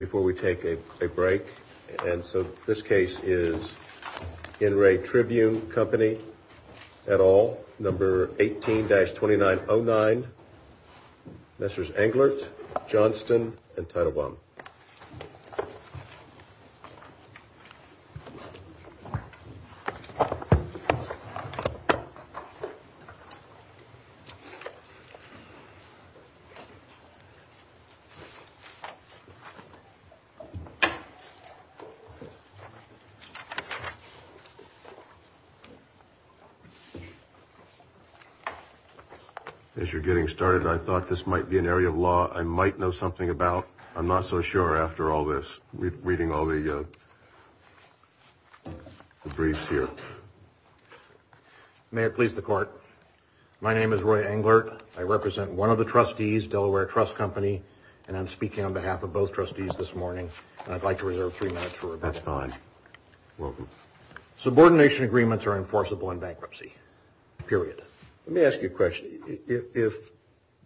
Before we take a break, and so this case is In Re Tribune Company et al, number 18-2909. Messrs. Englert, Johnston, and Teitelbaum. As you're getting started, I thought this might be an area of law I might know something about. I'm not so sure after all this, reading all the briefs here. May it please the court. My name is Roy Englert. I represent one of the trustees, Delaware Trust Company, and I'm speaking on behalf of both trustees this morning. I'd like to reserve three minutes for rebuttal. That's fine. Subordination agreements are enforceable in bankruptcy. Period. Let me ask you a question. If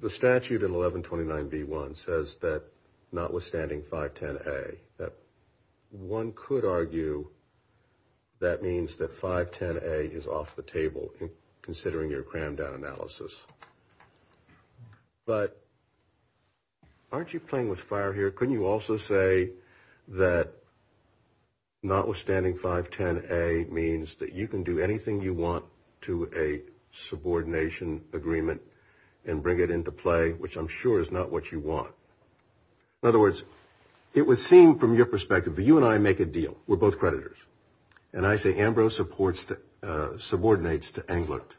the statute in 1129B1 says that notwithstanding 510A, one could argue that means that 510A is off the table, considering your crammed down analysis. But aren't you playing with fire here? Couldn't you also say that notwithstanding 510A means that you can do anything you want to a subordination agreement and bring it into play, which I'm sure is not what you want. In other words, it would seem from your perspective that you and I make a deal. We're both creditors. And I say Ambrose subordinates to Englert.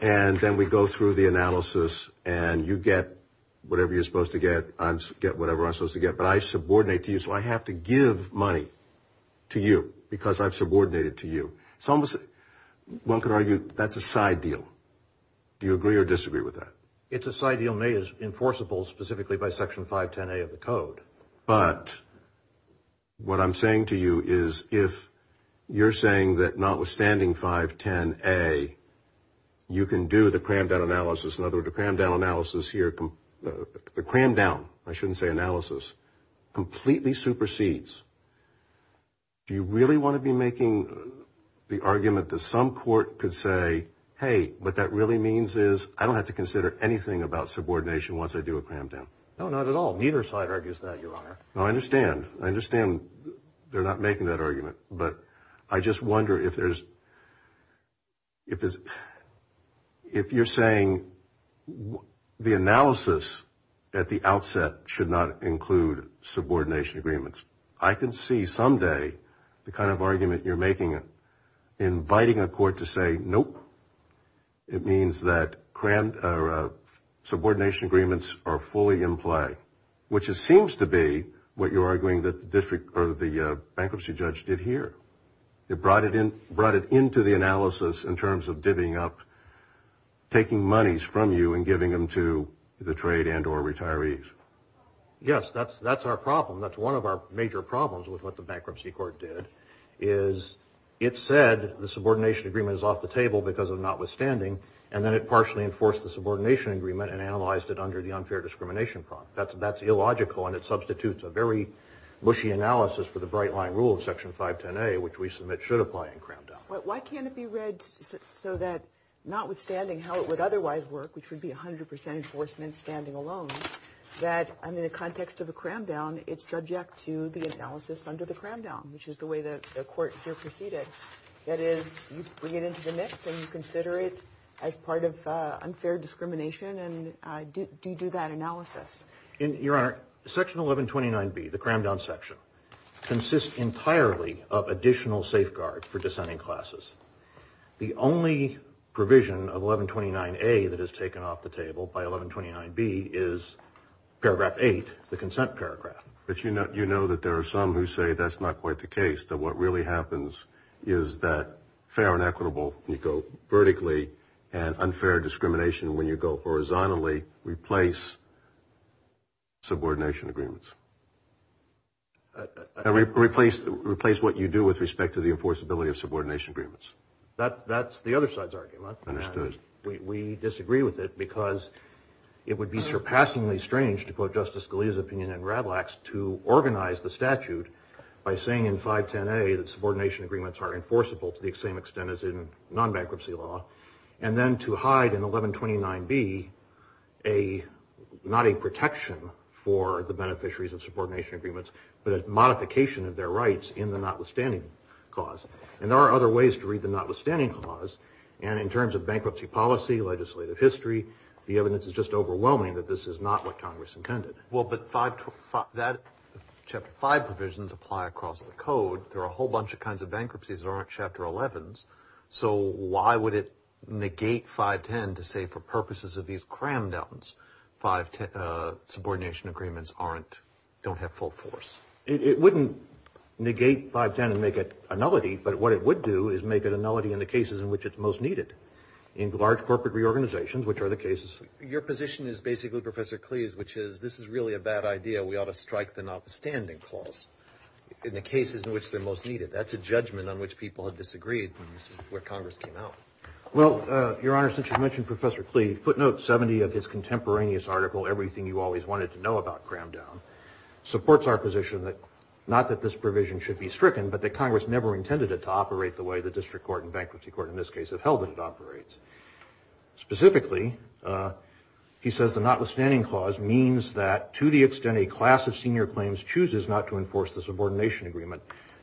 And then we go through the analysis, and you get whatever you're supposed to get. I get whatever I'm supposed to get. But I subordinate to you, so I have to give money to you because I've subordinated to you. One could argue that's a side deal. Do you agree or disagree with that? It's a side deal. It may be enforceable specifically by Section 510A of the code. But what I'm saying to you is if you're saying that notwithstanding 510A, you can do the crammed down analysis. In other words, the crammed down analysis here, the crammed down, I shouldn't say analysis, completely supersedes. Do you really want to be making the argument that some court could say, hey, what that really means is I don't have to consider anything about subordination once I do a crammed down? No, not at all. Neither side argues that, Your Honor. I understand. I understand they're not making that argument. But I just wonder if there's, if you're saying the analysis at the outset should not include subordination agreements. I can see someday the kind of argument you're making, inviting a court to say, nope. It means that subordination agreements are fully in play, which it seems to be what you're arguing that the bankruptcy judge did here. It brought it into the analysis in terms of divvying up, taking monies from you and giving them to the trade and or retirees. Yes, that's our problem. That's one of our major problems with what the bankruptcy court did is it said the subordination agreement is off the table because of notwithstanding. And then it partially enforced the subordination agreement and analyzed it under the unfair discrimination prompt. That's illogical. And it substitutes a very mushy analysis for the bright line rule of Section 510A, which we submit should apply in crammed down. Why can't it be read so that notwithstanding how it would otherwise work, which would be 100 percent enforcement standing alone, that in the context of a crammed down, it's subject to the analysis under the crammed down, which is the way that the court here proceeded. That is, you bring it into the mix and you consider it as part of unfair discrimination. Do you do that analysis? Your Honor, Section 1129B, the crammed down section, consists entirely of additional safeguard for dissenting classes. The only provision of 1129A that is taken off the table by 1129B is Paragraph 8, the consent paragraph. But you know that there are some who say that's not quite the case, that what really happens is that fair and equitable, you go vertically, and unfair discrimination, when you go horizontally, replace subordination agreements. Replace what you do with respect to the enforceability of subordination agreements. That's the other side's argument. Understood. We disagree with it because it would be surpassingly strange, to quote Justice Scalia's opinion in Ravlax, to organize the statute by saying in 510A that subordination agreements are enforceable to the same extent as in non-bankruptcy law, and then to hide in 1129B not a protection for the beneficiaries of subordination agreements, but a modification of their rights in the notwithstanding clause. And there are other ways to read the notwithstanding clause, and in terms of bankruptcy policy, legislative history, the evidence is just overwhelming that this is not what Congress intended. Well, but Chapter 5 provisions apply across the code. There are a whole bunch of kinds of bankruptcies that aren't Chapter 11s, so why would it negate 510 to say for purposes of these cram-downs subordination agreements don't have full force? It wouldn't negate 510 and make it a nullity, but what it would do is make it a nullity in the cases in which it's most needed, in large corporate reorganizations, which are the cases. Your position is basically, Professor Cleese, which is this is really a bad idea. We ought to strike the notwithstanding clause in the cases in which they're most needed. That's a judgment on which people have disagreed, and this is where Congress came out. Well, Your Honor, since you mentioned Professor Cleese, footnote 70 of his contemporaneous article, Everything You Always Wanted to Know About Cram-Down, supports our position that not that this provision should be stricken, but that Congress never intended it to operate the way the district court and bankruptcy court in this case have held that it operates. Specifically, he says the notwithstanding clause means that to the extent a class of senior claims chooses not to enforce the subordination agreement,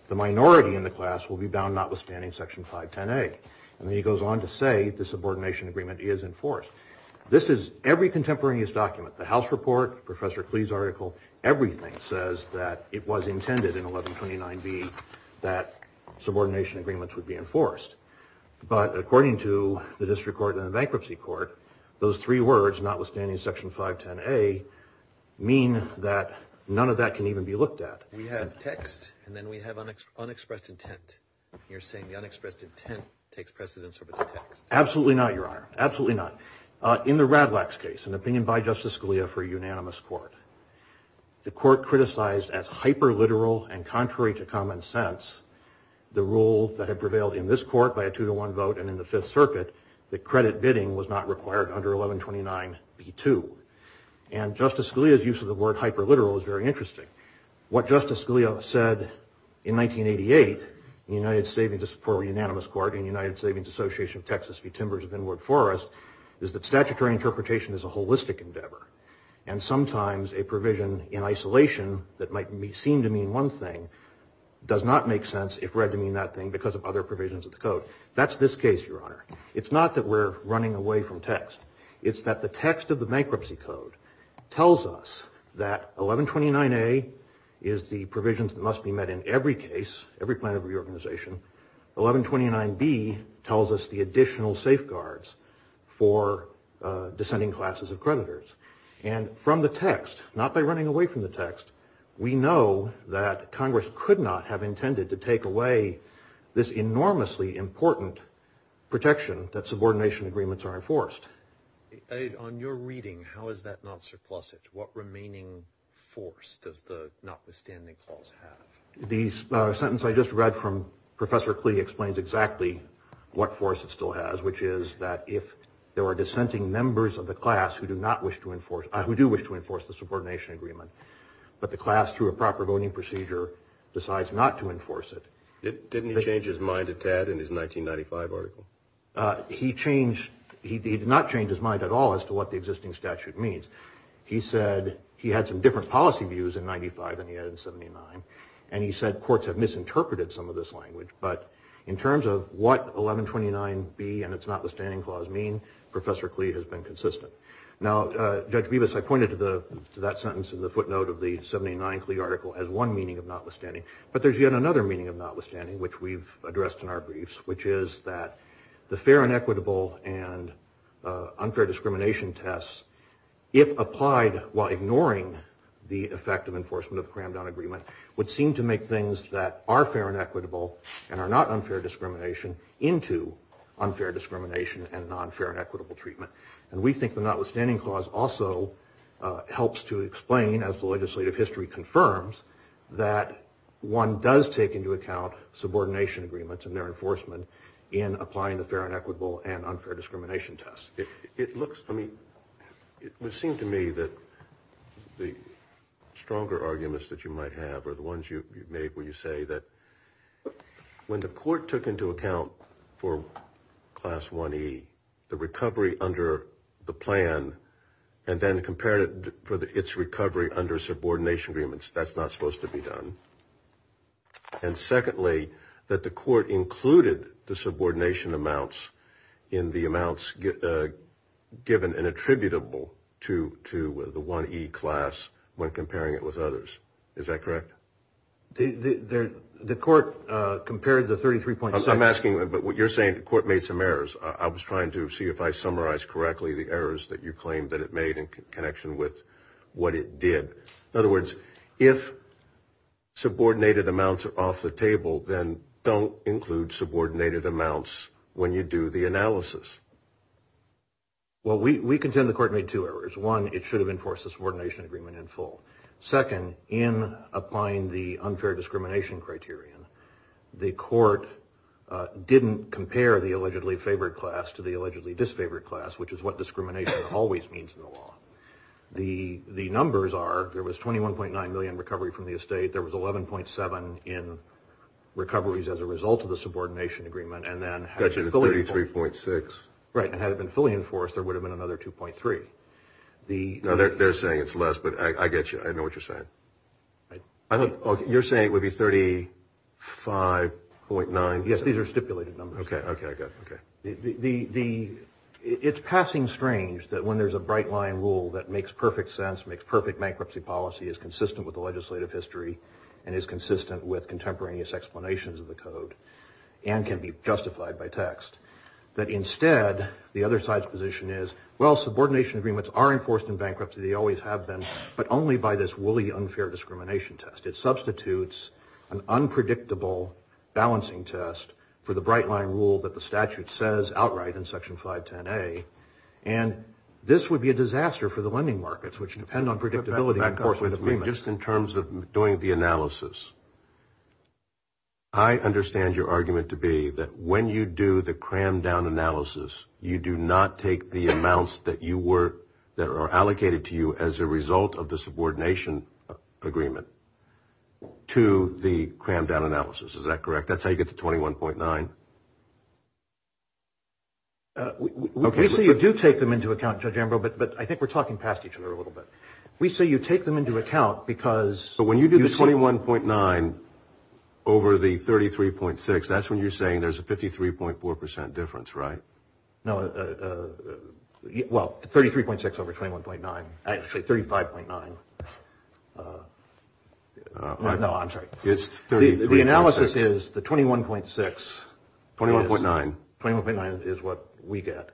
the minority in the class will be bound notwithstanding section 510A. And then he goes on to say the subordination agreement is enforced. This is every contemporaneous document, the House report, Professor Cleese's article, everything says that it was intended in 1129B that subordination agreements would be enforced. But according to the district court and the bankruptcy court, those three words, notwithstanding section 510A, mean that none of that can even be looked at. We have text, and then we have unexpressed intent. You're saying the unexpressed intent takes precedence over the text. Absolutely not, Your Honor, absolutely not. In the Radlax case, an opinion by Justice Scalia for a unanimous court, the court criticized as hyper-literal and contrary to common sense, the rule that had prevailed in this court by a two-to-one vote and in the Fifth Circuit, that credit bidding was not required under 1129B2. And Justice Scalia's use of the word hyper-literal is very interesting. What Justice Scalia said in 1988 for a unanimous court in the United Savings Association of Texas v. Timbers of Inwood Forest is that statutory interpretation is a holistic endeavor. And sometimes a provision in isolation that might seem to mean one thing does not make sense if read to mean that thing because of other provisions of the code. That's this case, Your Honor. It's not that we're running away from text. It's that the text of the bankruptcy code tells us that 1129A is the provisions that must be met in every case, every plan of reorganization. 1129B tells us the additional safeguards for descending classes of creditors. And from the text, not by running away from the text, we know that Congress could not have intended to take away this enormously important protection that subordination agreements are enforced. On your reading, how is that not surplusage? What remaining force does the notwithstanding clause have? The sentence I just read from Professor Klee explains exactly what force it still has, which is that if there are dissenting members of the class who do wish to enforce the subordination agreement, but the class, through a proper voting procedure, decides not to enforce it. Didn't he change his mind a tad in his 1995 article? He did not change his mind at all as to what the existing statute means. He said he had some different policy views in 95 than he had in 79, and he said courts have misinterpreted some of this language. But in terms of what 1129B and its notwithstanding clause mean, Professor Klee has been consistent. Now, Judge Bibas, I pointed to that sentence in the footnote of the 79 Klee article as one meaning of notwithstanding. But there's yet another meaning of notwithstanding, which we've addressed in our briefs, which is that the fair and equitable and unfair discrimination tests, if applied while ignoring the effect of enforcement of the Cram-Down Agreement, would seem to make things that are fair and equitable and are not unfair discrimination into unfair discrimination and non-fair and equitable treatment. And we think the notwithstanding clause also helps to explain, as the legislative history confirms, that one does take into account subordination agreements and their enforcement in applying the fair and equitable and unfair discrimination tests. It looks, I mean, it would seem to me that the stronger arguments that you might have are the ones you've made where you say that when the court took into account for Class I-E, the recovery under the plan, and then compared it for its recovery under subordination agreements, that's not supposed to be done. And secondly, that the court included the subordination amounts in the amounts given and attributable to the I-E class when comparing it with others. Is that correct? The court compared the 33.7. I'm asking, but what you're saying, the court made some errors. I was trying to see if I summarized correctly the errors that you claimed that it made in connection with what it did. In other words, if subordinated amounts are off the table, then don't include subordinated amounts when you do the analysis. Well, we contend the court made two errors. One, it should have enforced the subordination agreement in full. Second, in applying the unfair discrimination criterion, the court didn't compare the allegedly favored class to the allegedly disfavored class, which is what discrimination always means in the law. The numbers are there was 21.9 million in recovery from the estate. There was 11.7 in recoveries as a result of the subordination agreement. And then had it been fully enforced, there would have been another 2.3. They're saying it's less, but I get you. I know what you're saying. You're saying it would be 35.9? Yes, these are stipulated numbers. Okay, I got it. It's passing strange that when there's a bright-line rule that makes perfect sense, makes perfect bankruptcy policy, is consistent with the legislative history and is consistent with contemporaneous explanations of the code and can be justified by text, that instead the other side's position is, well, subordination agreements are enforced in bankruptcy. They always have been, but only by this wooly unfair discrimination test. It substitutes an unpredictable balancing test for the bright-line rule that the statute says outright in Section 510A, and this would be a disaster for the lending markets, which depend on predictability enforcement agreements. Just in terms of doing the analysis, I understand your argument to be that when you do the crammed-down analysis, you do not take the amounts that are allocated to you as a result of the subordination agreement to the crammed-down analysis. Is that correct? That's how you get to 21.9? We say you do take them into account, Judge Ambrose, but I think we're talking past each other a little bit. We say you take them into account because you see. But when you do the 21.9 over the 33.6, that's when you're saying there's a 53.4% difference, right? No, well, 33.6 over 21.9, actually 35.9. No, I'm sorry. It's 33.6. The analysis is the 21.6. 21.9. 21.9 is what we get.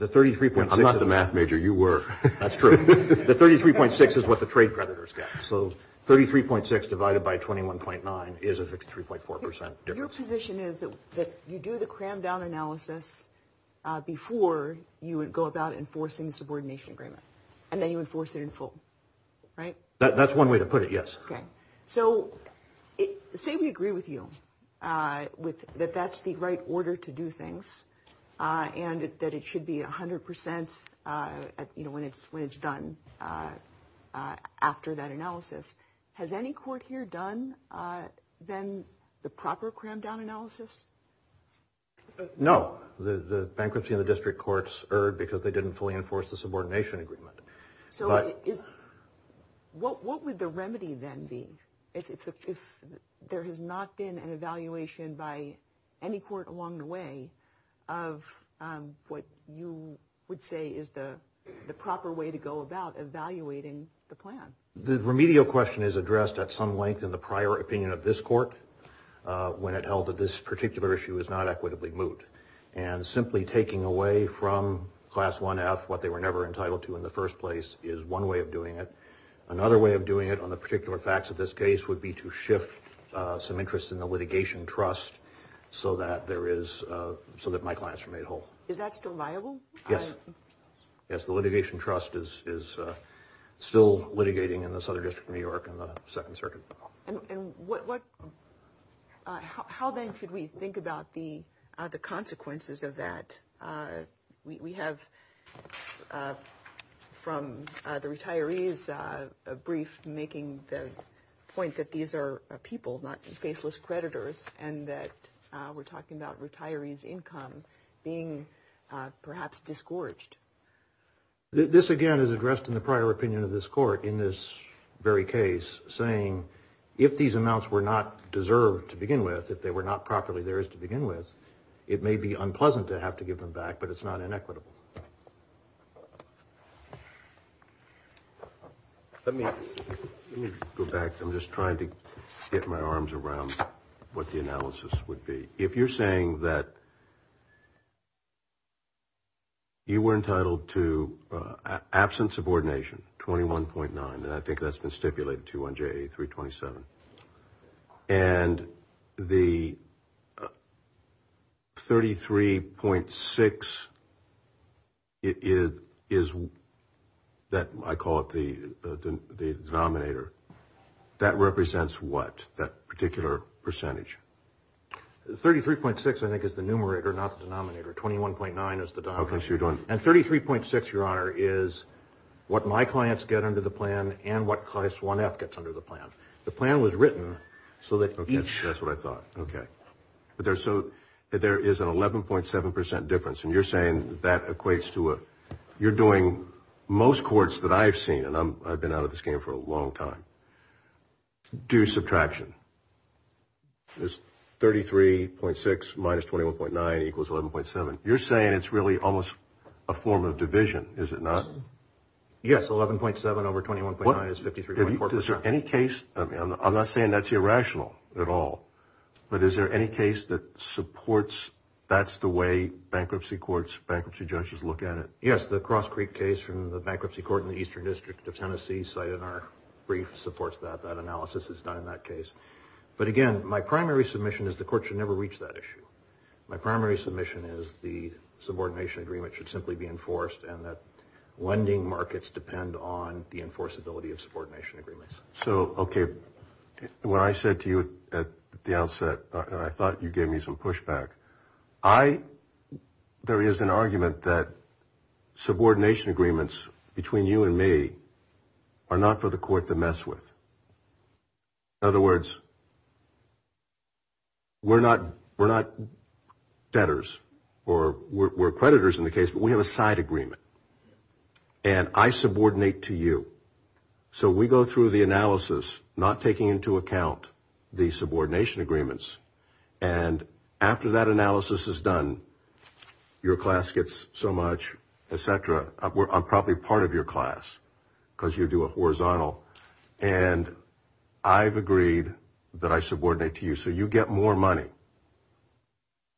I'm not the math major. You were. That's true. The 33.6 is what the trade creditors get. So 33.6 divided by 21.9 is a 53.4% difference. Your position is that you do the crammed-down analysis before you would go about enforcing the subordination agreement, and then you enforce it in full, right? That's one way to put it, yes. Okay. So say we agree with you that that's the right order to do things and that it should be 100% when it's done after that analysis. Has any court here done then the proper crammed-down analysis? No. The bankruptcy in the district courts erred because they didn't fully enforce the subordination agreement. What would the remedy then be if there has not been an evaluation by any court along the way of what you would say is the proper way to go about evaluating the plan? The remedial question is addressed at some length in the prior opinion of this court when it held that this particular issue is not equitably moot, and simply taking away from Class 1-F what they were never entitled to in the first place is one way of doing it. Another way of doing it on the particular facts of this case would be to shift some interest in the litigation trust so that my clients are made whole. Is that still viable? Yes. Yes, the litigation trust is still litigating in the Southern District of New York in the Second Circuit. And how then should we think about the consequences of that? We have from the retirees a brief making the point that these are people, not faceless creditors, and that we're talking about retirees' income being perhaps disgorged. This again is addressed in the prior opinion of this court in this very case, saying if these amounts were not deserved to begin with, if they were not properly theirs to begin with, it may be unpleasant to have to give them back, but it's not inequitable. Let me go back. I'm just trying to get my arms around what the analysis would be. If you're saying that you were entitled to absent subordination, 21.9, and I think that's been stipulated too on JA 327, and the 33.6 is what I call the denominator, that represents what, that particular percentage? 33.6 I think is the numerator, not the denominator. 21.9 is the denominator. And 33.6, Your Honor, is what my clients get under the plan and what Class 1F gets under the plan. The plan was written so that each. Okay, that's what I thought. Okay. So there is an 11.7% difference, and you're saying that equates to a, you're doing most courts that I've seen, and I've been out of this game for a long time, do subtraction. There's 33.6 minus 21.9 equals 11.7. You're saying it's really almost a form of division, is it not? Yes, 11.7 over 21.9 is 53.4%. Your Honor, is there any case, I'm not saying that's irrational at all, but is there any case that supports that's the way bankruptcy courts, bankruptcy judges look at it? Yes, the Cross Creek case from the Bankruptcy Court in the Eastern District of Tennessee cited in our brief supports that. That analysis is done in that case. But again, my primary submission is the court should never reach that issue. My primary submission is the subordination agreement should simply be enforced and that lending markets depend on the enforceability of subordination agreements. So, okay, what I said to you at the outset, and I thought you gave me some pushback, I, there is an argument that subordination agreements between you and me are not for the court to mess with. In other words, we're not debtors or we're creditors in the case, but we have a side agreement. And I subordinate to you. So we go through the analysis, not taking into account the subordination agreements. And after that analysis is done, your class gets so much, et cetera, I'm probably part of your class because you do a horizontal, and I've agreed that I subordinate to you. So you get more money.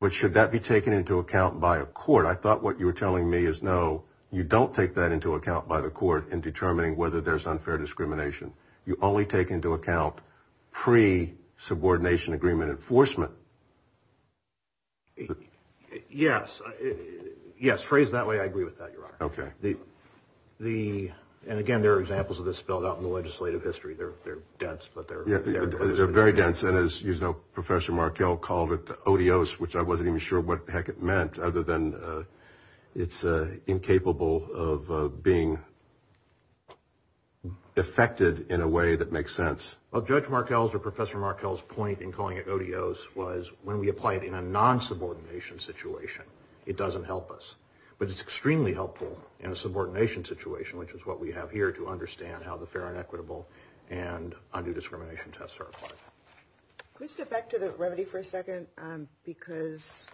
But should that be taken into account by a court? I thought what you were telling me is no, you don't take that into account by the court in determining whether there's unfair discrimination. You only take into account pre-subordination agreement enforcement. Yes. Yes, phrased that way, I agree with that, Your Honor. Okay. And, again, there are examples of this spelled out in the legislative history. They're dense, but they're very dense. And as you know, Professor Markell called it the odious, which I wasn't even sure what the heck it meant, other than it's incapable of being effected in a way that makes sense. Well, Judge Markell's or Professor Markell's point in calling it odious was when we apply it in a non-subordination situation, it doesn't help us. But it's extremely helpful in a subordination situation, which is what we have here to understand how the fair and equitable and undue discrimination tests are applied. Could we step back to the remedy for a second? Because,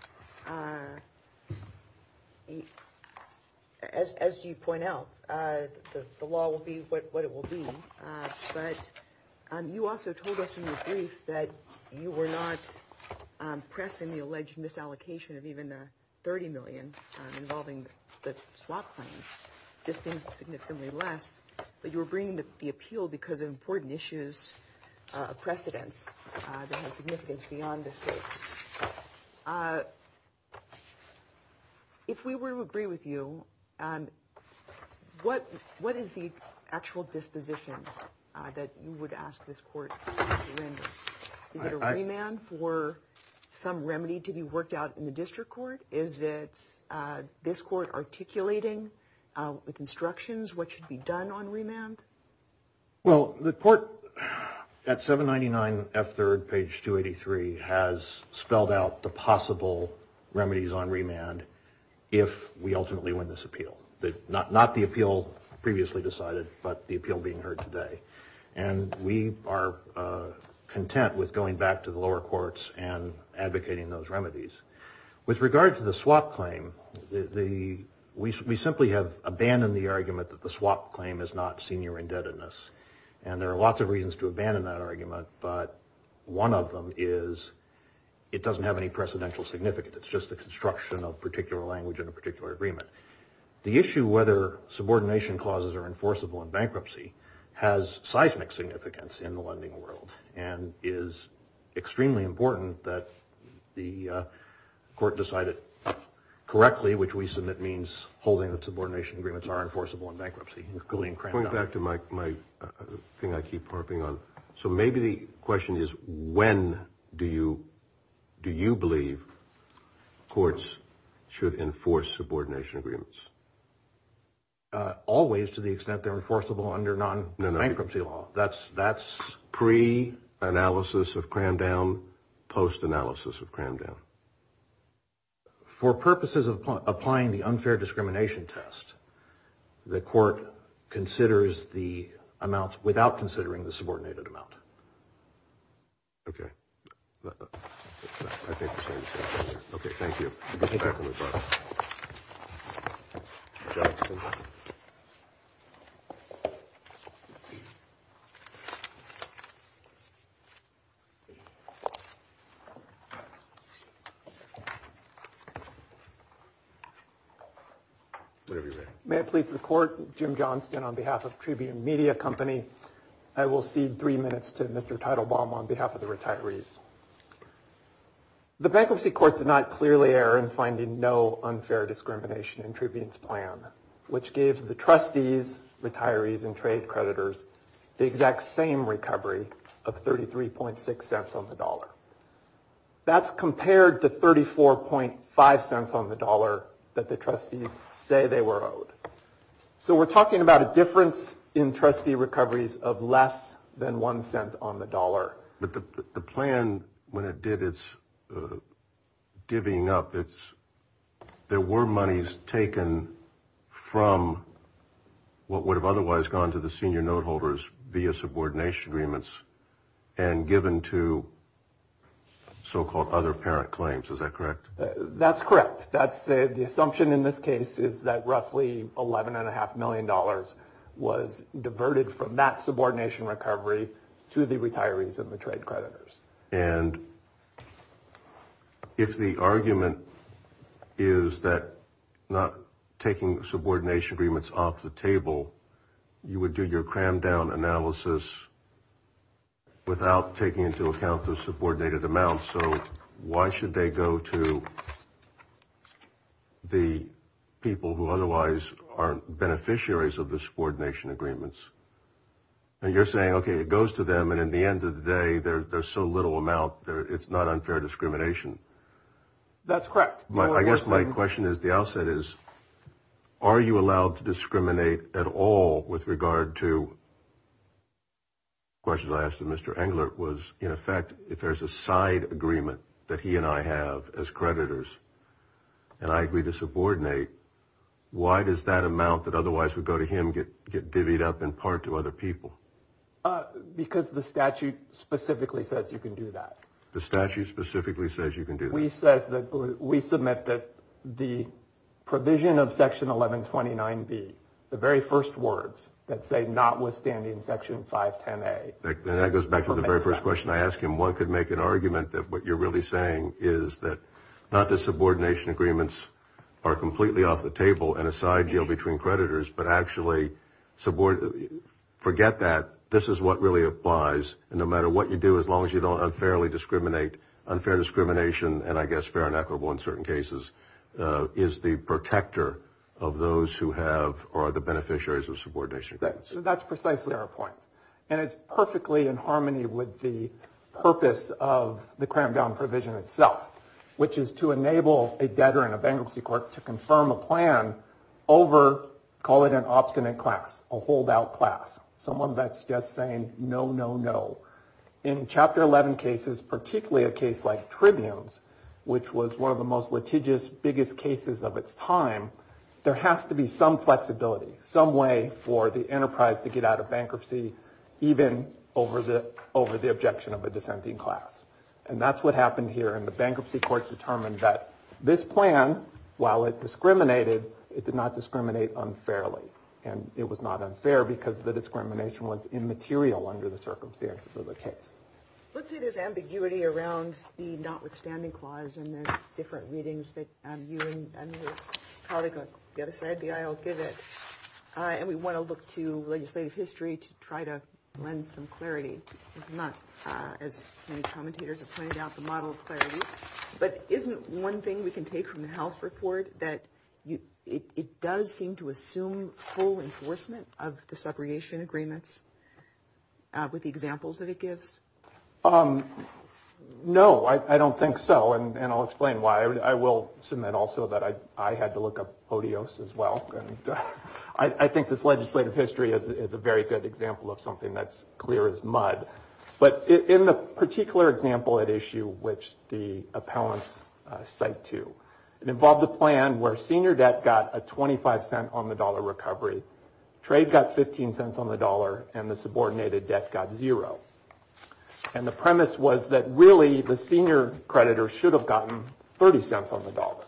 as you point out, the law will be what it will be. But you also told us in your brief that you were not pressing the alleged misallocation of even $30 million involving the swap claims, just being significantly less, but you were bringing the appeal because of important issues of precedence that have significance beyond this case. If we were to agree with you, what is the actual disposition that you would ask this court to render? Is it a remand for some remedy to be worked out in the district court? Is it this court articulating with instructions what should be done on remand? Well, the court at 799F3rd, page 283, has spelled out the possible remedies on remand if we ultimately win this appeal. Not the appeal previously decided, but the appeal being heard today. And we are content with going back to the lower courts and advocating those remedies. With regard to the swap claim, we simply have abandoned the argument that the swap claim is not senior indebtedness. And there are lots of reasons to abandon that argument, but one of them is it doesn't have any precedential significance. It's just the construction of a particular language and a particular agreement. The issue whether subordination clauses are enforceable in bankruptcy has seismic significance in the lending world and is extremely important that the court decide it correctly, which we submit means holding that subordination agreements are enforceable in bankruptcy. Going back to my thing I keep harping on, so maybe the question is when do you believe courts should enforce subordination agreements? Always to the extent they're enforceable under non-bankruptcy law. That's pre-analysis of Cramdown, post-analysis of Cramdown. For purposes of applying the unfair discrimination test, the court considers the amounts without considering the subordinated amount. Okay. I think the same thing. Okay, thank you. Thank you. May it please the court, Jim Johnston on behalf of Tribune Media Company. I will cede three minutes to Mr. Teitelbaum on behalf of the retirees. The bankruptcy court did not clearly err in finding no unfair discrimination in Tribune's plan, which gives the trustees, retirees, and trade creditors the exact same recovery of 33.6 cents on the dollar. That's compared to 34.5 cents on the dollar that the trustees say they were owed. So we're talking about a difference in trustee recoveries of less than one cent on the dollar. But the plan, when it did its giving up, there were monies taken from what would have otherwise gone to the senior note holders via subordination agreements and given to so-called other parent claims. Is that correct? That's correct. The assumption in this case is that roughly $11.5 million was diverted from that subordination recovery to the retirees and the trade creditors. And if the argument is that not taking subordination agreements off the table, you would do your crammed down analysis without taking into account the subordinated amounts. So why should they go to the people who otherwise are beneficiaries of the subordination agreements? And you're saying, okay, it goes to them, and at the end of the day, there's so little amount, it's not unfair discrimination. That's correct. I guess my question at the outset is, are you allowed to discriminate at all with regard to, the question I asked of Mr. Englert was, in effect, if there's a side agreement that he and I have as creditors, and I agree to subordinate, why does that amount that otherwise would go to him get divvied up in part to other people? Because the statute specifically says you can do that. The statute specifically says you can do that. We submit that the provision of Section 1129B, the very first words that say notwithstanding Section 510A. And that goes back to the very first question I asked him. One could make an argument that what you're really saying is that not the subordination agreements are completely off the table and a side deal between creditors, but actually forget that. This is what really applies, and no matter what you do, as long as you don't unfairly discriminate, unfair discrimination, and I guess fair and equitable in certain cases, is the protector of those who have or are the beneficiaries of subordination agreements. So that's precisely our point. And it's perfectly in harmony with the purpose of the cramp-down provision itself, which is to enable a debtor in a bankruptcy court to confirm a plan over, call it an obstinate class, a holdout class, someone that's just saying no, no, no. In Chapter 11 cases, particularly a case like Tribunes, which was one of the most litigious, biggest cases of its time, there has to be some flexibility, some way for the enterprise to get out of bankruptcy, even over the objection of a dissenting class. And that's what happened here, and the bankruptcy courts determined that this plan, while it discriminated, it did not discriminate unfairly. And it was not unfair because the discrimination was immaterial under the circumstances of the case. Let's say there's ambiguity around the notwithstanding clause, and there's different readings that you and your colleague on the other side of the aisle give it, and we want to look to legislative history to try to lend some clarity. There's not, as many commentators have pointed out, the model of clarity. But isn't one thing we can take from the health report that it does seem to assume full enforcement of the segregation agreements with the examples that it gives? No, I don't think so, and I'll explain why. I will submit also that I had to look up ODIOS as well. I think this legislative history is a very good example of something that's clear as mud. But in the particular example at issue which the appellants cite to, it involved a plan where senior debt got a 25 cent on the dollar recovery, trade got 15 cents on the dollar, and the subordinated debt got zero. And the premise was that really the senior creditor should have gotten 30 cents on the dollar.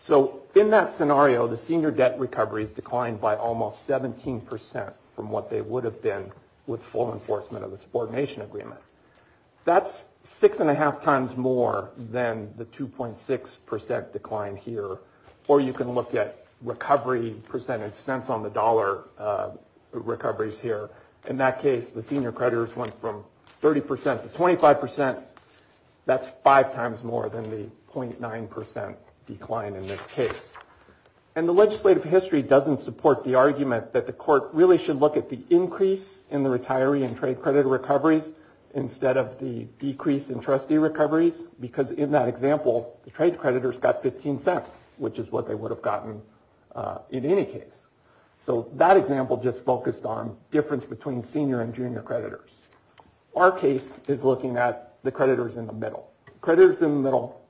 So in that scenario, the senior debt recoveries declined by almost 17 percent from what they would have been with full enforcement of the subordination agreement. That's six and a half times more than the 2.6 percent decline here, or you can look at recovery percentage cents on the dollar recoveries here. In that case, the senior creditors went from 30 percent to 25 percent. That's five times more than the 0.9 percent decline in this case. And the legislative history doesn't support the argument that the court really should look at the increase in the retiree and trade creditor recoveries instead of the decrease in trustee recoveries, because in that example, the trade creditors got 15 cents, which is what they would have gotten in any case. So that example just focused on difference between senior and junior creditors. Our case is looking at the creditors in the middle. Creditors in the middle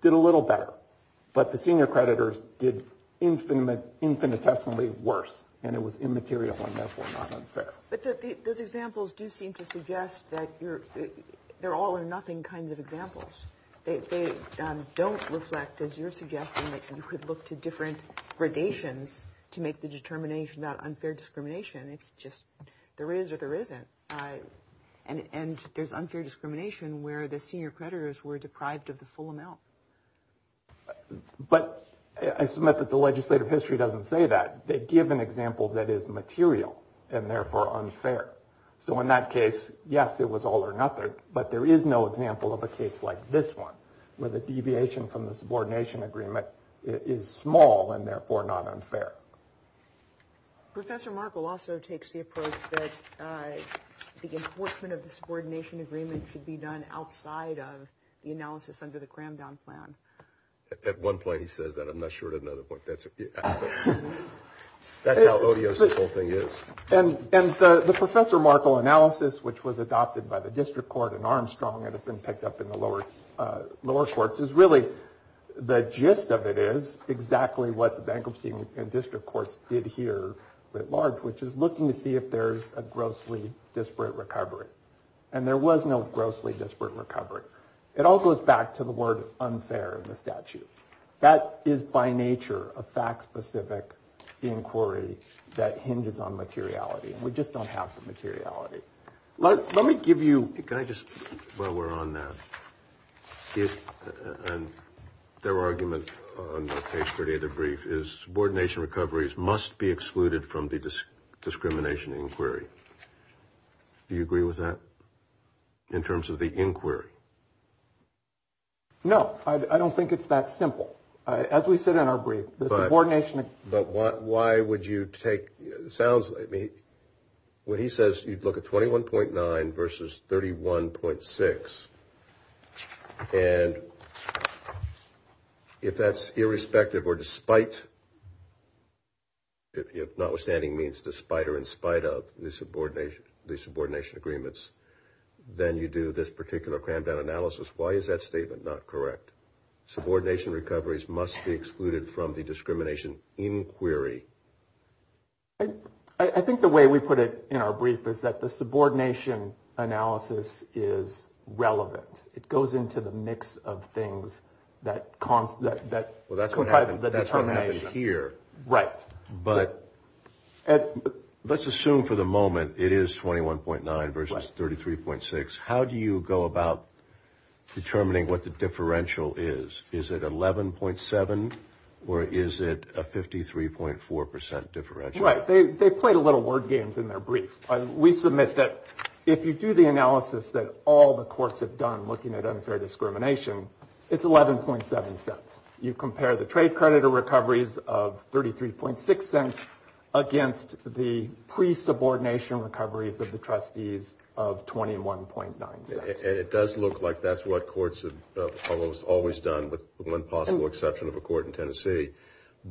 did a little better, but the senior creditors did infinitesimally worse, and it was immaterial and therefore not unfair. But those examples do seem to suggest that they're all or nothing kinds of examples. They don't reflect, as you're suggesting, that you could look to different gradations to make the determination about unfair discrimination. It's just there is or there isn't. And there's unfair discrimination where the senior creditors were deprived of the full amount. But I submit that the legislative history doesn't say that. They give an example that is material and therefore unfair. So in that case, yes, it was all or nothing, but there is no example of a case like this one, where the deviation from the subordination agreement is small and therefore not unfair. Professor Markle also takes the approach that the enforcement of the subordination agreement should be done outside of the analysis under the Cramdown plan. At one point, he says that. I'm not sure at another point. That's how odious the whole thing is. And the Professor Markle analysis, which was adopted by the district court in Armstrong and has been picked up in the lower courts, is really the gist of it is exactly what the bankruptcy and district courts did here at large, which is looking to see if there's a grossly disparate recovery. And there was no grossly disparate recovery. It all goes back to the word unfair in the statute. That is by nature a fact specific inquiry that hinges on materiality. We just don't have the materiality. Let me give you. Can I just while we're on that? And their argument on the case for the other brief is subordination. Recoveries must be excluded from the discrimination inquiry. Do you agree with that in terms of the inquiry? No, I don't think it's that simple. As we said in our brief, the subordination. But why would you take sounds like me when he says you'd look at twenty one point nine versus thirty one point six. And if that's irrespective or despite. If notwithstanding means despite or in spite of the subordination, the subordination agreements, then you do this particular crammed down analysis. Why is that statement not correct? Subordination recoveries must be excluded from the discrimination inquiry. I think the way we put it in our brief is that the subordination analysis is relevant. It goes into the mix of things that cause that. Well, that's what happened here. Right. But let's assume for the moment it is twenty one point nine versus thirty three point six. How do you go about determining what the differential is? Is it eleven point seven or is it a fifty three point four percent differential? Right. They played a little word games in their brief. We submit that if you do the analysis that all the courts have done looking at unfair discrimination, it's eleven point seven cents. You compare the trade creditor recoveries of thirty three point six cents against the pre subordination recoveries of the trustees of twenty one point nine. And it does look like that's what courts have almost always done with one possible exception of a court in Tennessee.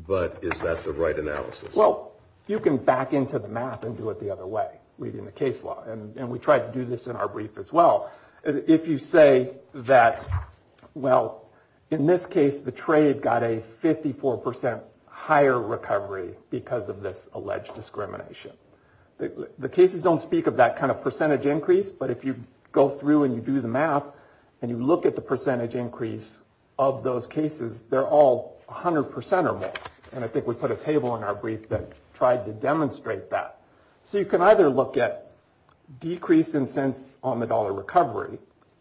But is that the right analysis? Well, you can back into the math and do it the other way. Reading the case law and we tried to do this in our brief as well. If you say that, well, in this case, the trade got a fifty four percent higher recovery because of this alleged discrimination. The cases don't speak of that kind of percentage increase. But if you go through and you do the math and you look at the percentage increase of those cases, they're all one hundred percent or more. And I think we put a table in our brief that tried to demonstrate that. So you can either look at decrease in cents on the dollar recovery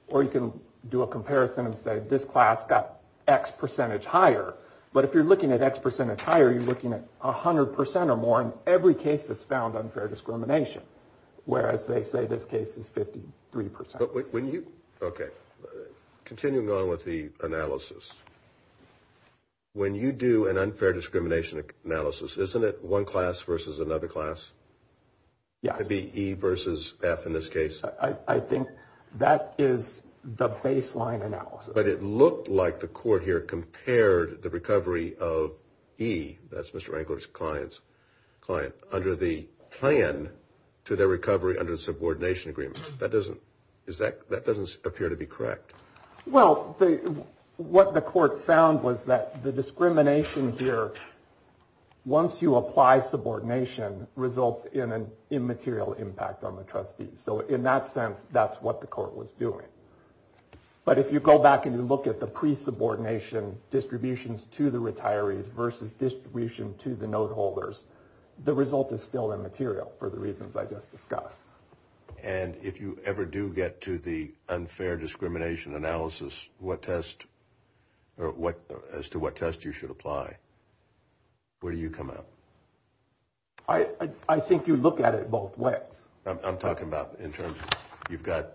or you can do a comparison and say this class got X percentage higher. But if you're looking at X percent higher, you're looking at one hundred percent or more in every case that's found unfair discrimination. Whereas they say this case is fifty three percent. But when you. OK. Continuing on with the analysis. When you do an unfair discrimination analysis, isn't it one class versus another class? To be E versus F in this case. I think that is the baseline analysis. But it looked like the court here compared the recovery of E. That's Mr. Wrangler's clients client under the plan to their recovery under subordination agreements. That doesn't is that that doesn't appear to be correct. Well, what the court found was that the discrimination here, once you apply subordination, results in an immaterial impact on the trustees. So in that sense, that's what the court was doing. But if you go back and you look at the pre subordination distributions to the retirees versus distribution to the note holders, the result is still immaterial for the reasons I just discussed. And if you ever do get to the unfair discrimination analysis, what test or what as to what test you should apply? Where do you come up? I think you look at it both ways. I'm talking about in terms of you've got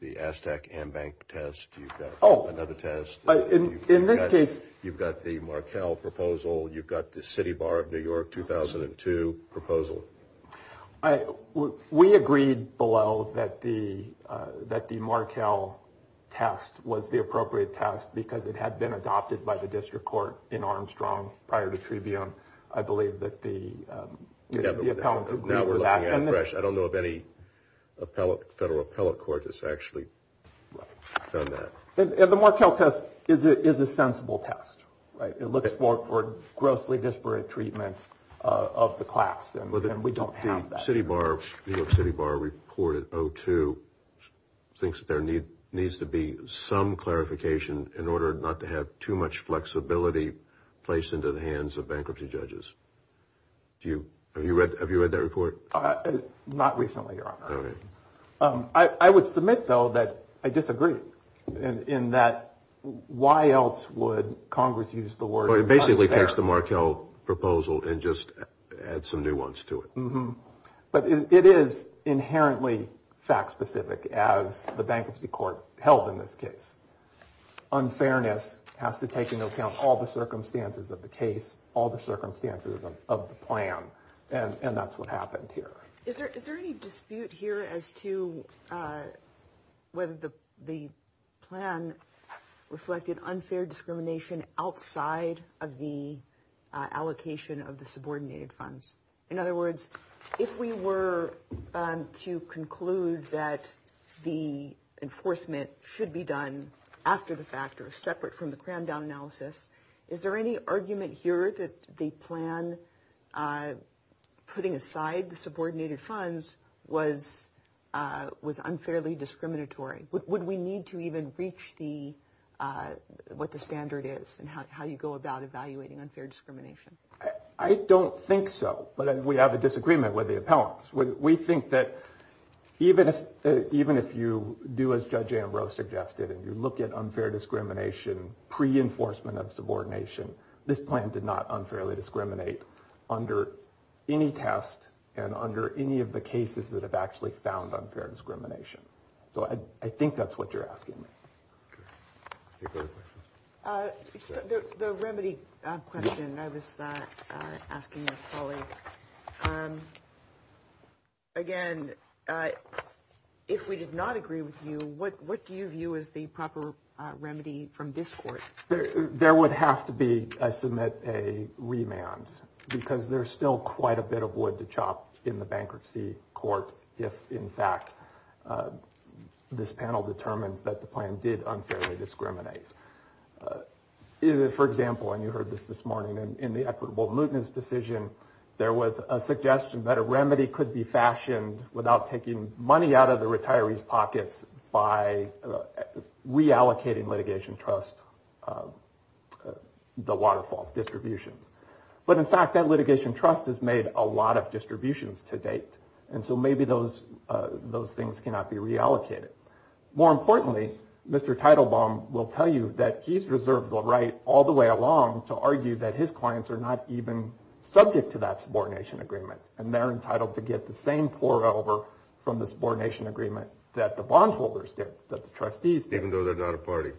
the Aztec and Bank test. You've got another test. In this case, you've got the Markel proposal. You've got the City Bar of New York 2002 proposal. We agreed below that the that the Markel test was the appropriate test because it had been adopted by the district court in Armstrong prior to Tribune. I believe that the appellants agree with that. I don't know of any federal appellate court that's actually done that. The Markel test is a sensible test. It looks for grossly disparate treatment of the class, and we don't have that. The City Bar of New York City Bar reported 02 thinks there needs to be some clarification in order not to have too much flexibility placed into the hands of bankruptcy judges. Do you have you read? Have you read that report? Not recently. I would submit, though, that I disagree in that. Why else would Congress use the word basically text the Markel proposal and just add some new ones to it? But it is inherently fact specific. As the bankruptcy court held in this case, unfairness has to take into account all the circumstances of the case, all the circumstances of the plan. And that's what happened here. Is there any dispute here as to whether the plan reflected unfair discrimination outside of the allocation of the subordinated funds? In other words, if we were to conclude that the enforcement should be done after the factors separate from the crammed down analysis, is there any argument here that the plan putting aside the subordinated funds was was unfairly discriminatory? Would we need to even reach the what the standard is and how you go about evaluating unfair discrimination? I don't think so. But we have a disagreement with the appellants. We think that even if even if you do, as Judge Ambrose suggested, and you look at unfair discrimination, pre enforcement of subordination, this plan did not unfairly discriminate under any test and under any of the cases that have actually found unfair discrimination. So I think that's what you're asking. The remedy question I was asking my colleague. Again, if we did not agree with you, what what do you view as the proper remedy from this court? There would have to be a submit a remand because there's still quite a bit of wood to chop in the bankruptcy court. If, in fact, this panel determines that the plan did unfairly discriminate. For example, and you heard this this morning in the equitable mootness decision, there was a suggestion that a remedy could be fashioned without taking money out of the retirees pockets by reallocating litigation trust the waterfall distributions. But in fact, that litigation trust has made a lot of distributions to date. And so maybe those those things cannot be reallocated. More importantly, Mr. Title Bomb will tell you that he's reserved the right all the way along to argue that his clients are not even subject to that subordination agreement. And they're entitled to get the same pour over from the subordination agreement that the bondholders did, that the trustees, even though they're not a party.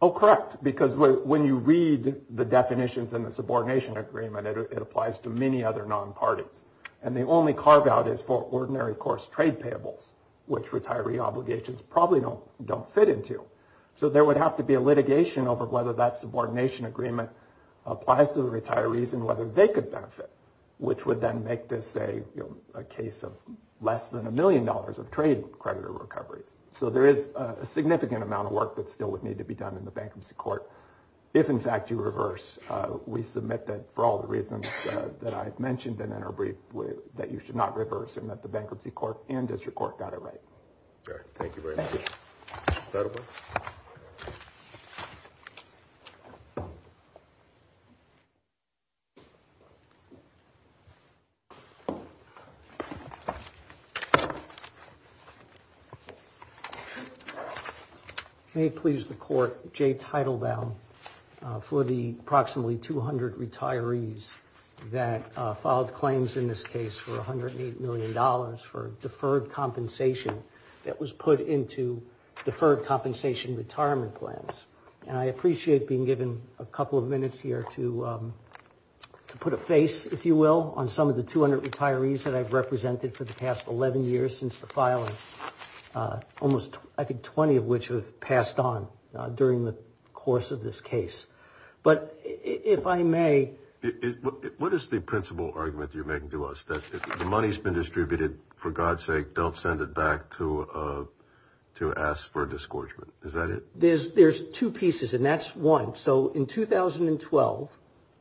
Oh, correct, because when you read the definitions in the subordination agreement, it applies to many other non parties. And the only carve out is for ordinary course trade payables, which retiree obligations probably don't don't fit into. So there would have to be a litigation over whether that subordination agreement applies to the retirees and whether they could benefit, which would then make this a case of less than a million dollars of trade credit recoveries. So there is a significant amount of work that still would need to be done in the bankruptcy court. If, in fact, you reverse, we submit that for all the reasons that I mentioned in our brief, that you should not reverse and that the bankruptcy court and district court got it right. Thank you very much. Thank you. Thank you. May it please the court. Jay title down for the approximately 200 retirees that filed claims in this case for one hundred million dollars for deferred compensation. That was put into deferred compensation retirement plans. And I appreciate being given a couple of minutes here to put a face, if you will, on some of the 200 retirees that I've represented for the past 11 years since the filing. Almost, I think, 20 of which have passed on during the course of this case. But if I may. What is the principal argument you're making to us that the money's been distributed? For God's sake, don't send it back to to ask for a disgorgement. Is that it? There's there's two pieces and that's one. So in 2012,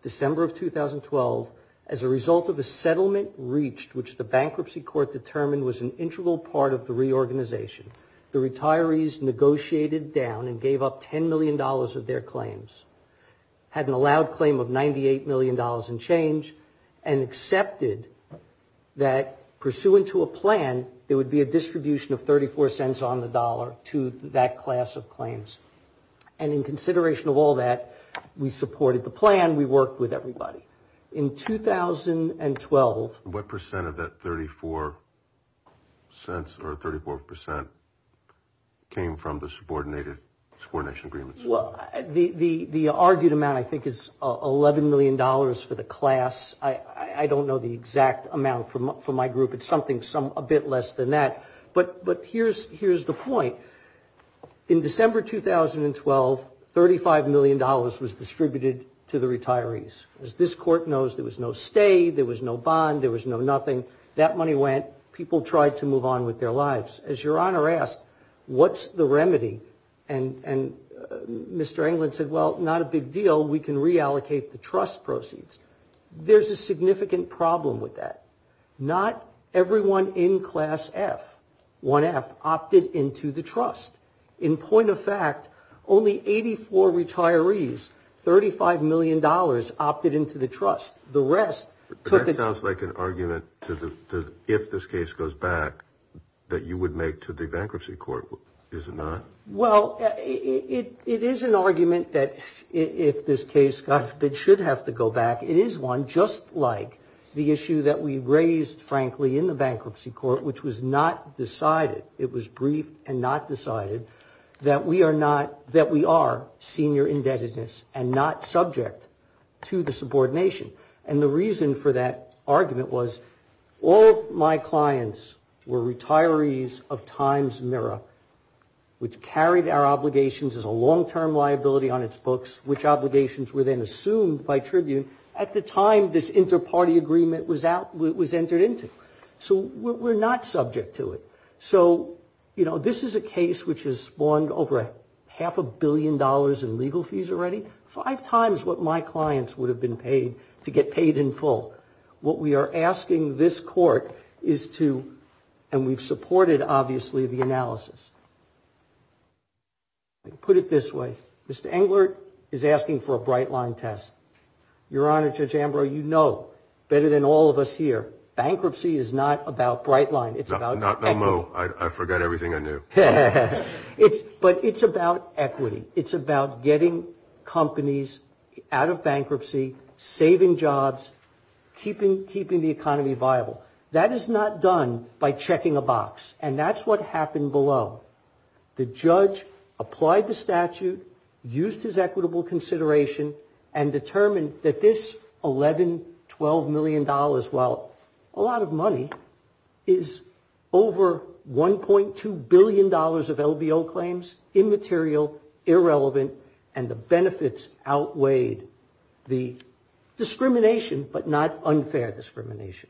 December of 2012, as a result of a settlement reached, which the bankruptcy court determined was an integral part of the reorganization, the retirees negotiated down and gave up ten million dollars of their claims, had an allowed claim of ninety eight million dollars in change and accepted that pursuant to a plan, there would be a distribution of thirty four cents on the dollar to that class of claims. And in consideration of all that, we supported the plan. We worked with everybody in 2012. What percent of that thirty four cents or thirty four percent came from the subordinated coordination agreements? Well, the the the argued amount, I think, is eleven million dollars for the class. I don't know the exact amount from up for my group. It's something some a bit less than that. But but here's here's the point. In December 2012, thirty five million dollars was distributed to the retirees. As this court knows, there was no stay. There was no bond. There was no nothing. That money went. People tried to move on with their lives. As your honor asked, what's the remedy? And Mr. England said, well, not a big deal. We can reallocate the trust proceeds. There's a significant problem with that. Not everyone in class F1F opted into the trust. In point of fact, only eighty four retirees. Thirty five million dollars opted into the trust. The rest took it. Sounds like an argument. If this case goes back that you would make to the bankruptcy court, is it not? Well, it is an argument that if this case that should have to go back, it is one. Just like the issue that we raised, frankly, in the bankruptcy court, which was not decided. It was brief and not decided that we are not that we are senior indebtedness and not subject to the subordination. And the reason for that argument was all my clients were retirees of Times Mirror, which carried our obligations as a long term liability on its books, which obligations were then assumed by Tribune at the time this interparty agreement was out, was entered into. So we're not subject to it. So, you know, this is a case which has spawned over half a billion dollars in legal fees already. Five times what my clients would have been paid to get paid in full. What we are asking this court is to and we've supported, obviously, the analysis. Put it this way, Mr. Englert is asking for a bright line test. Your Honor, Judge Ambrose, you know better than all of us here bankruptcy is not about bright line. It's not. No, no. I forgot everything I knew. But it's about equity. It's about getting companies out of bankruptcy, saving jobs, keeping keeping the economy viable. That is not done by checking a box. And that's what happened below. The judge applied the statute, used his equitable consideration and determined that this eleven, twelve million dollars, while a lot of money, is over one point two billion dollars of LBO claims, immaterial, irrelevant. And the benefits outweighed the discrimination, but not unfair discrimination.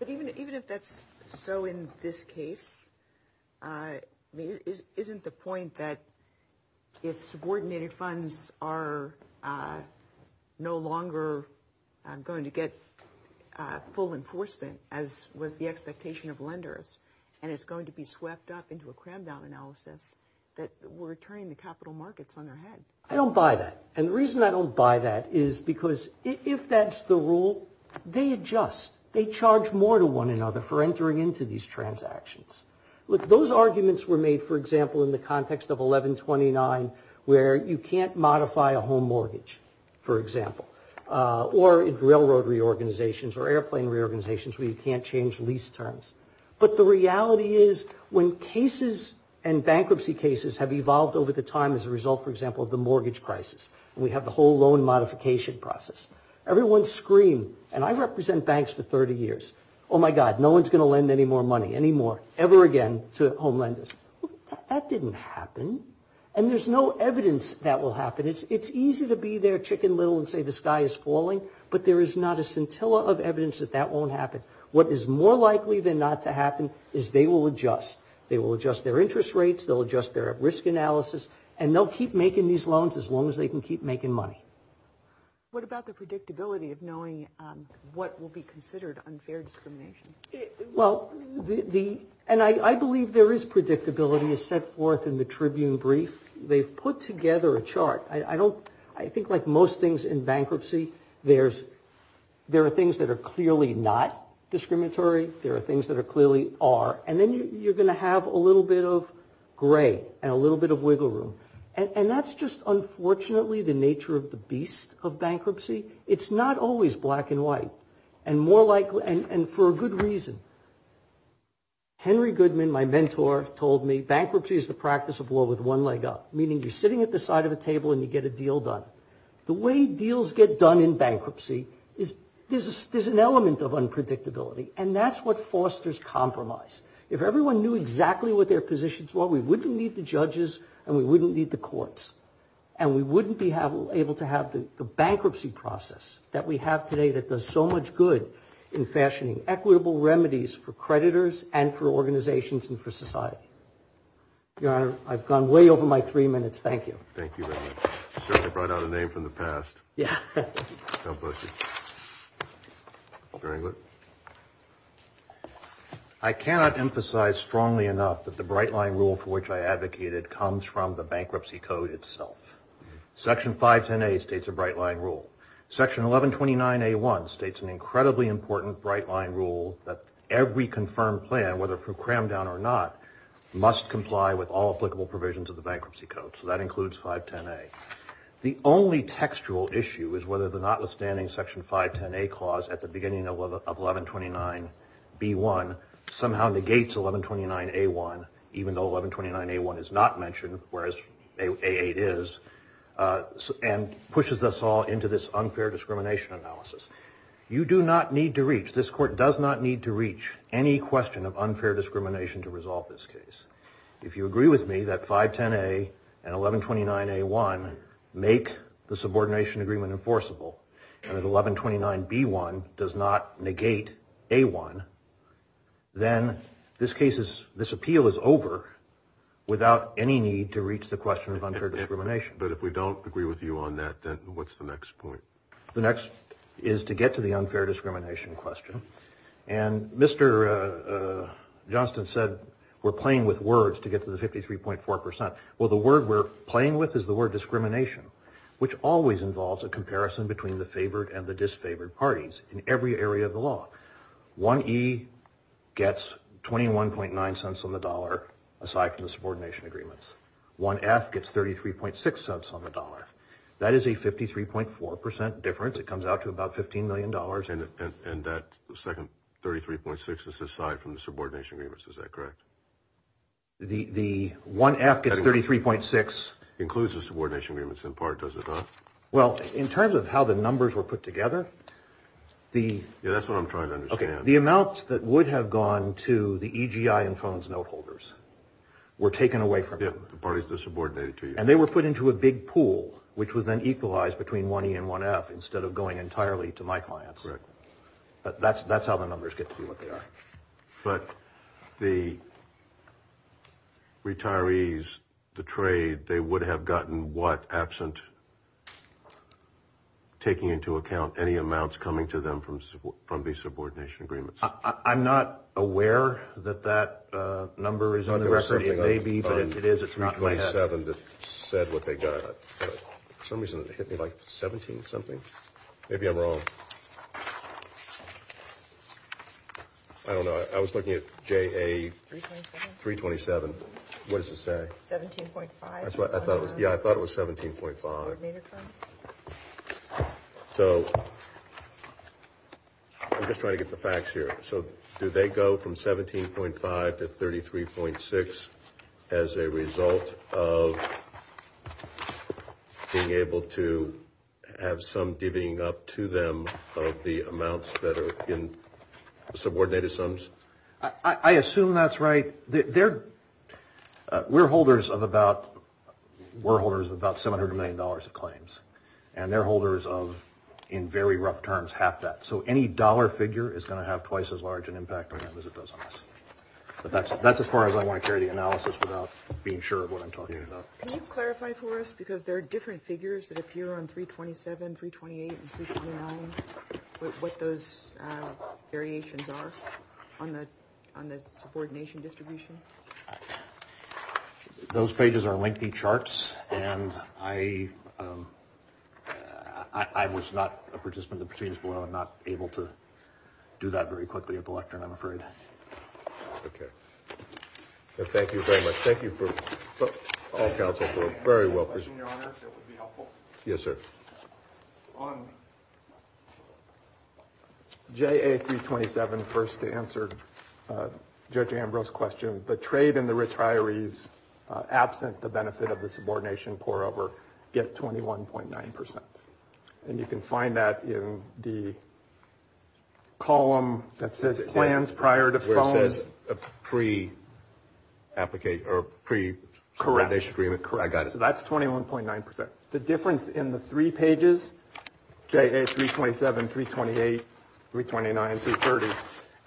But even if that's so in this case, isn't the point that if subordinated funds are no longer going to get full enforcement, as was the expectation of lenders, and it's going to be swept up into a crammed down analysis, that we're turning the capital markets on their head? I don't buy that. And the reason I don't buy that is because if that's the rule, they adjust. They charge more to one another for entering into these transactions. Look, those arguments were made, for example, in the context of 1129, where you can't modify a home mortgage, for example. Or in railroad reorganizations or airplane reorganizations where you can't change lease terms. But the reality is when cases and bankruptcy cases have evolved over the time as a result, for example, of the mortgage crisis, and we have the whole loan modification process, everyone screamed, and I represent banks for 30 years, oh my God, no one's going to lend any more money, any more, ever again, to home lenders. That didn't happen. And there's no evidence that will happen. It's easy to be their chicken little and say the sky is falling, but there is not a scintilla of evidence that that won't happen. What is more likely than not to happen is they will adjust. They will adjust their interest rates, they'll adjust their risk analysis, and they'll keep making these loans as long as they can keep making money. What about the predictability of knowing what will be considered unfair discrimination? Well, and I believe there is predictability as set forth in the Tribune brief. They've put together a chart. I think like most things in bankruptcy, there are things that are clearly not discriminatory. There are things that are clearly are. And then you're going to have a little bit of gray and a little bit of wiggle room. And that's just unfortunately the nature of the beast of bankruptcy. It's not always black and white. And for a good reason. Henry Goodman, my mentor, told me bankruptcy is the practice of law with one leg up, meaning you're sitting at the side of the table and you get a deal done. The way deals get done in bankruptcy is there's an element of unpredictability, and that's what fosters compromise. If everyone knew exactly what their positions were, we wouldn't need the judges and we wouldn't need the courts. And we wouldn't be able to have the bankruptcy process that we have today that does so much good in fashioning equitable remedies for creditors and for organizations and for society. Your Honor, I've gone way over my three minutes. Thank you. Thank you very much. Certainly brought out a name from the past. Yeah. No bullshit. Mr. Engler. I cannot emphasize strongly enough that the bright line rule for which I advocated comes from the bankruptcy code itself. Section 510A states a bright line rule. Section 1129A1 states an incredibly important bright line rule that every confirmed plan, whether through cram down or not, must comply with all applicable provisions of the bankruptcy code. So that includes 510A. The only textual issue is whether the notwithstanding Section 510A clause at the beginning of 1129B1 somehow negates 1129A1, even though 1129A1 is not mentioned, whereas A8 is, and pushes us all into this unfair discrimination analysis. You do not need to reach, this court does not need to reach, any question of unfair discrimination to resolve this case. If you agree with me that 510A and 1129A1 make the subordination agreement enforceable and that 1129B1 does not negate A1, then this appeal is over without any need to reach the question of unfair discrimination. But if we don't agree with you on that, then what's the next point? The next is to get to the unfair discrimination question. And Mr. Johnston said we're playing with words to get to the 53.4%. Well, the word we're playing with is the word discrimination, which always involves a comparison between the favored and the disfavored parties in every area of the law. 1E gets 21.9 cents on the dollar, aside from the subordination agreements. 1F gets 33.6 cents on the dollar. That is a 53.4% difference. It comes out to about $15 million. And that second 33.6 is aside from the subordination agreements. Is that correct? The 1F gets 33.6. Includes the subordination agreements in part, does it not? Well, in terms of how the numbers were put together, the amounts that would have gone to the EGI and phones note holders were taken away from them. The parties that subordinated to you. And they were put into a big pool, which was then equalized between 1E and 1F, instead of going entirely to my clients. That's how the numbers get to be what they are. But the retirees, the trade, they would have gotten what, absent taking into account any amounts coming to them from the subordination agreements? I'm not aware that that number is on the record. It may be, but it is. It's not what I have. It's 327 that said what they got. For some reason it hit me like 17-something. Maybe I'm wrong. I don't know. I was looking at JA 327. What does it say? 17.5. Yeah, I thought it was 17.5. I'm just trying to get the facts here. So do they go from 17.5 to 33.6 as a result of being able to have some divvying up to them of the amounts that are in subordinated sums? I assume that's right. We're holders of about $700 million of claims. And they're holders of, in very rough terms, half that. So any dollar figure is going to have twice as large an impact on them as it does on us. But that's as far as I want to carry the analysis without being sure of what I'm talking about. Can you clarify for us, because there are different figures that appear on 327, 328, and 329, what those variations are on the subordination distribution? Those pages are lengthy charts. And I was not a participant in the proceedings below. I'm not able to do that very quickly at the lectern, I'm afraid. Okay. Thank you very much. Thank you for all counsel for a very well presented. I have a question, Your Honor, if it would be helpful. Yes, sir. On JA327, first to answer Judge Ambrose's question, the trade and the retirees absent the benefit of the subordination pour over get 21.9%. And you can find that in the column that says plans prior to phone. Where it says pre-application or pre-subordination agreement. Correct. I got it. So that's 21.9%. The difference in the three pages, JA327, 328, 329, 330,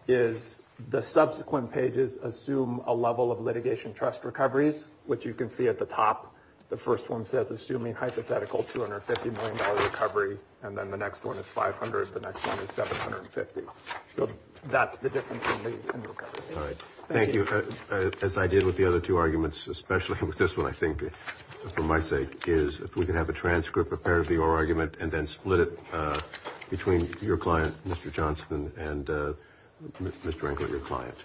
is the subsequent pages assume a level of litigation trust recoveries, which you can see at the top. The first one says assuming hypothetical $250 million recovery, and then the next one is 500, the next one is 750. So that's the difference in the recoveries. All right. Thank you. As I did with the other two arguments, especially with this one, I think, for my sake, is if we could have a transcript prepared of your argument and then split it between your client, Mr. Johnson, and Mr. Englert, your client.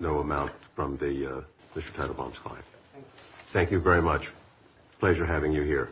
No amount from Mr. Teitelbaum's client. Thank you very much. Pleasure having you here.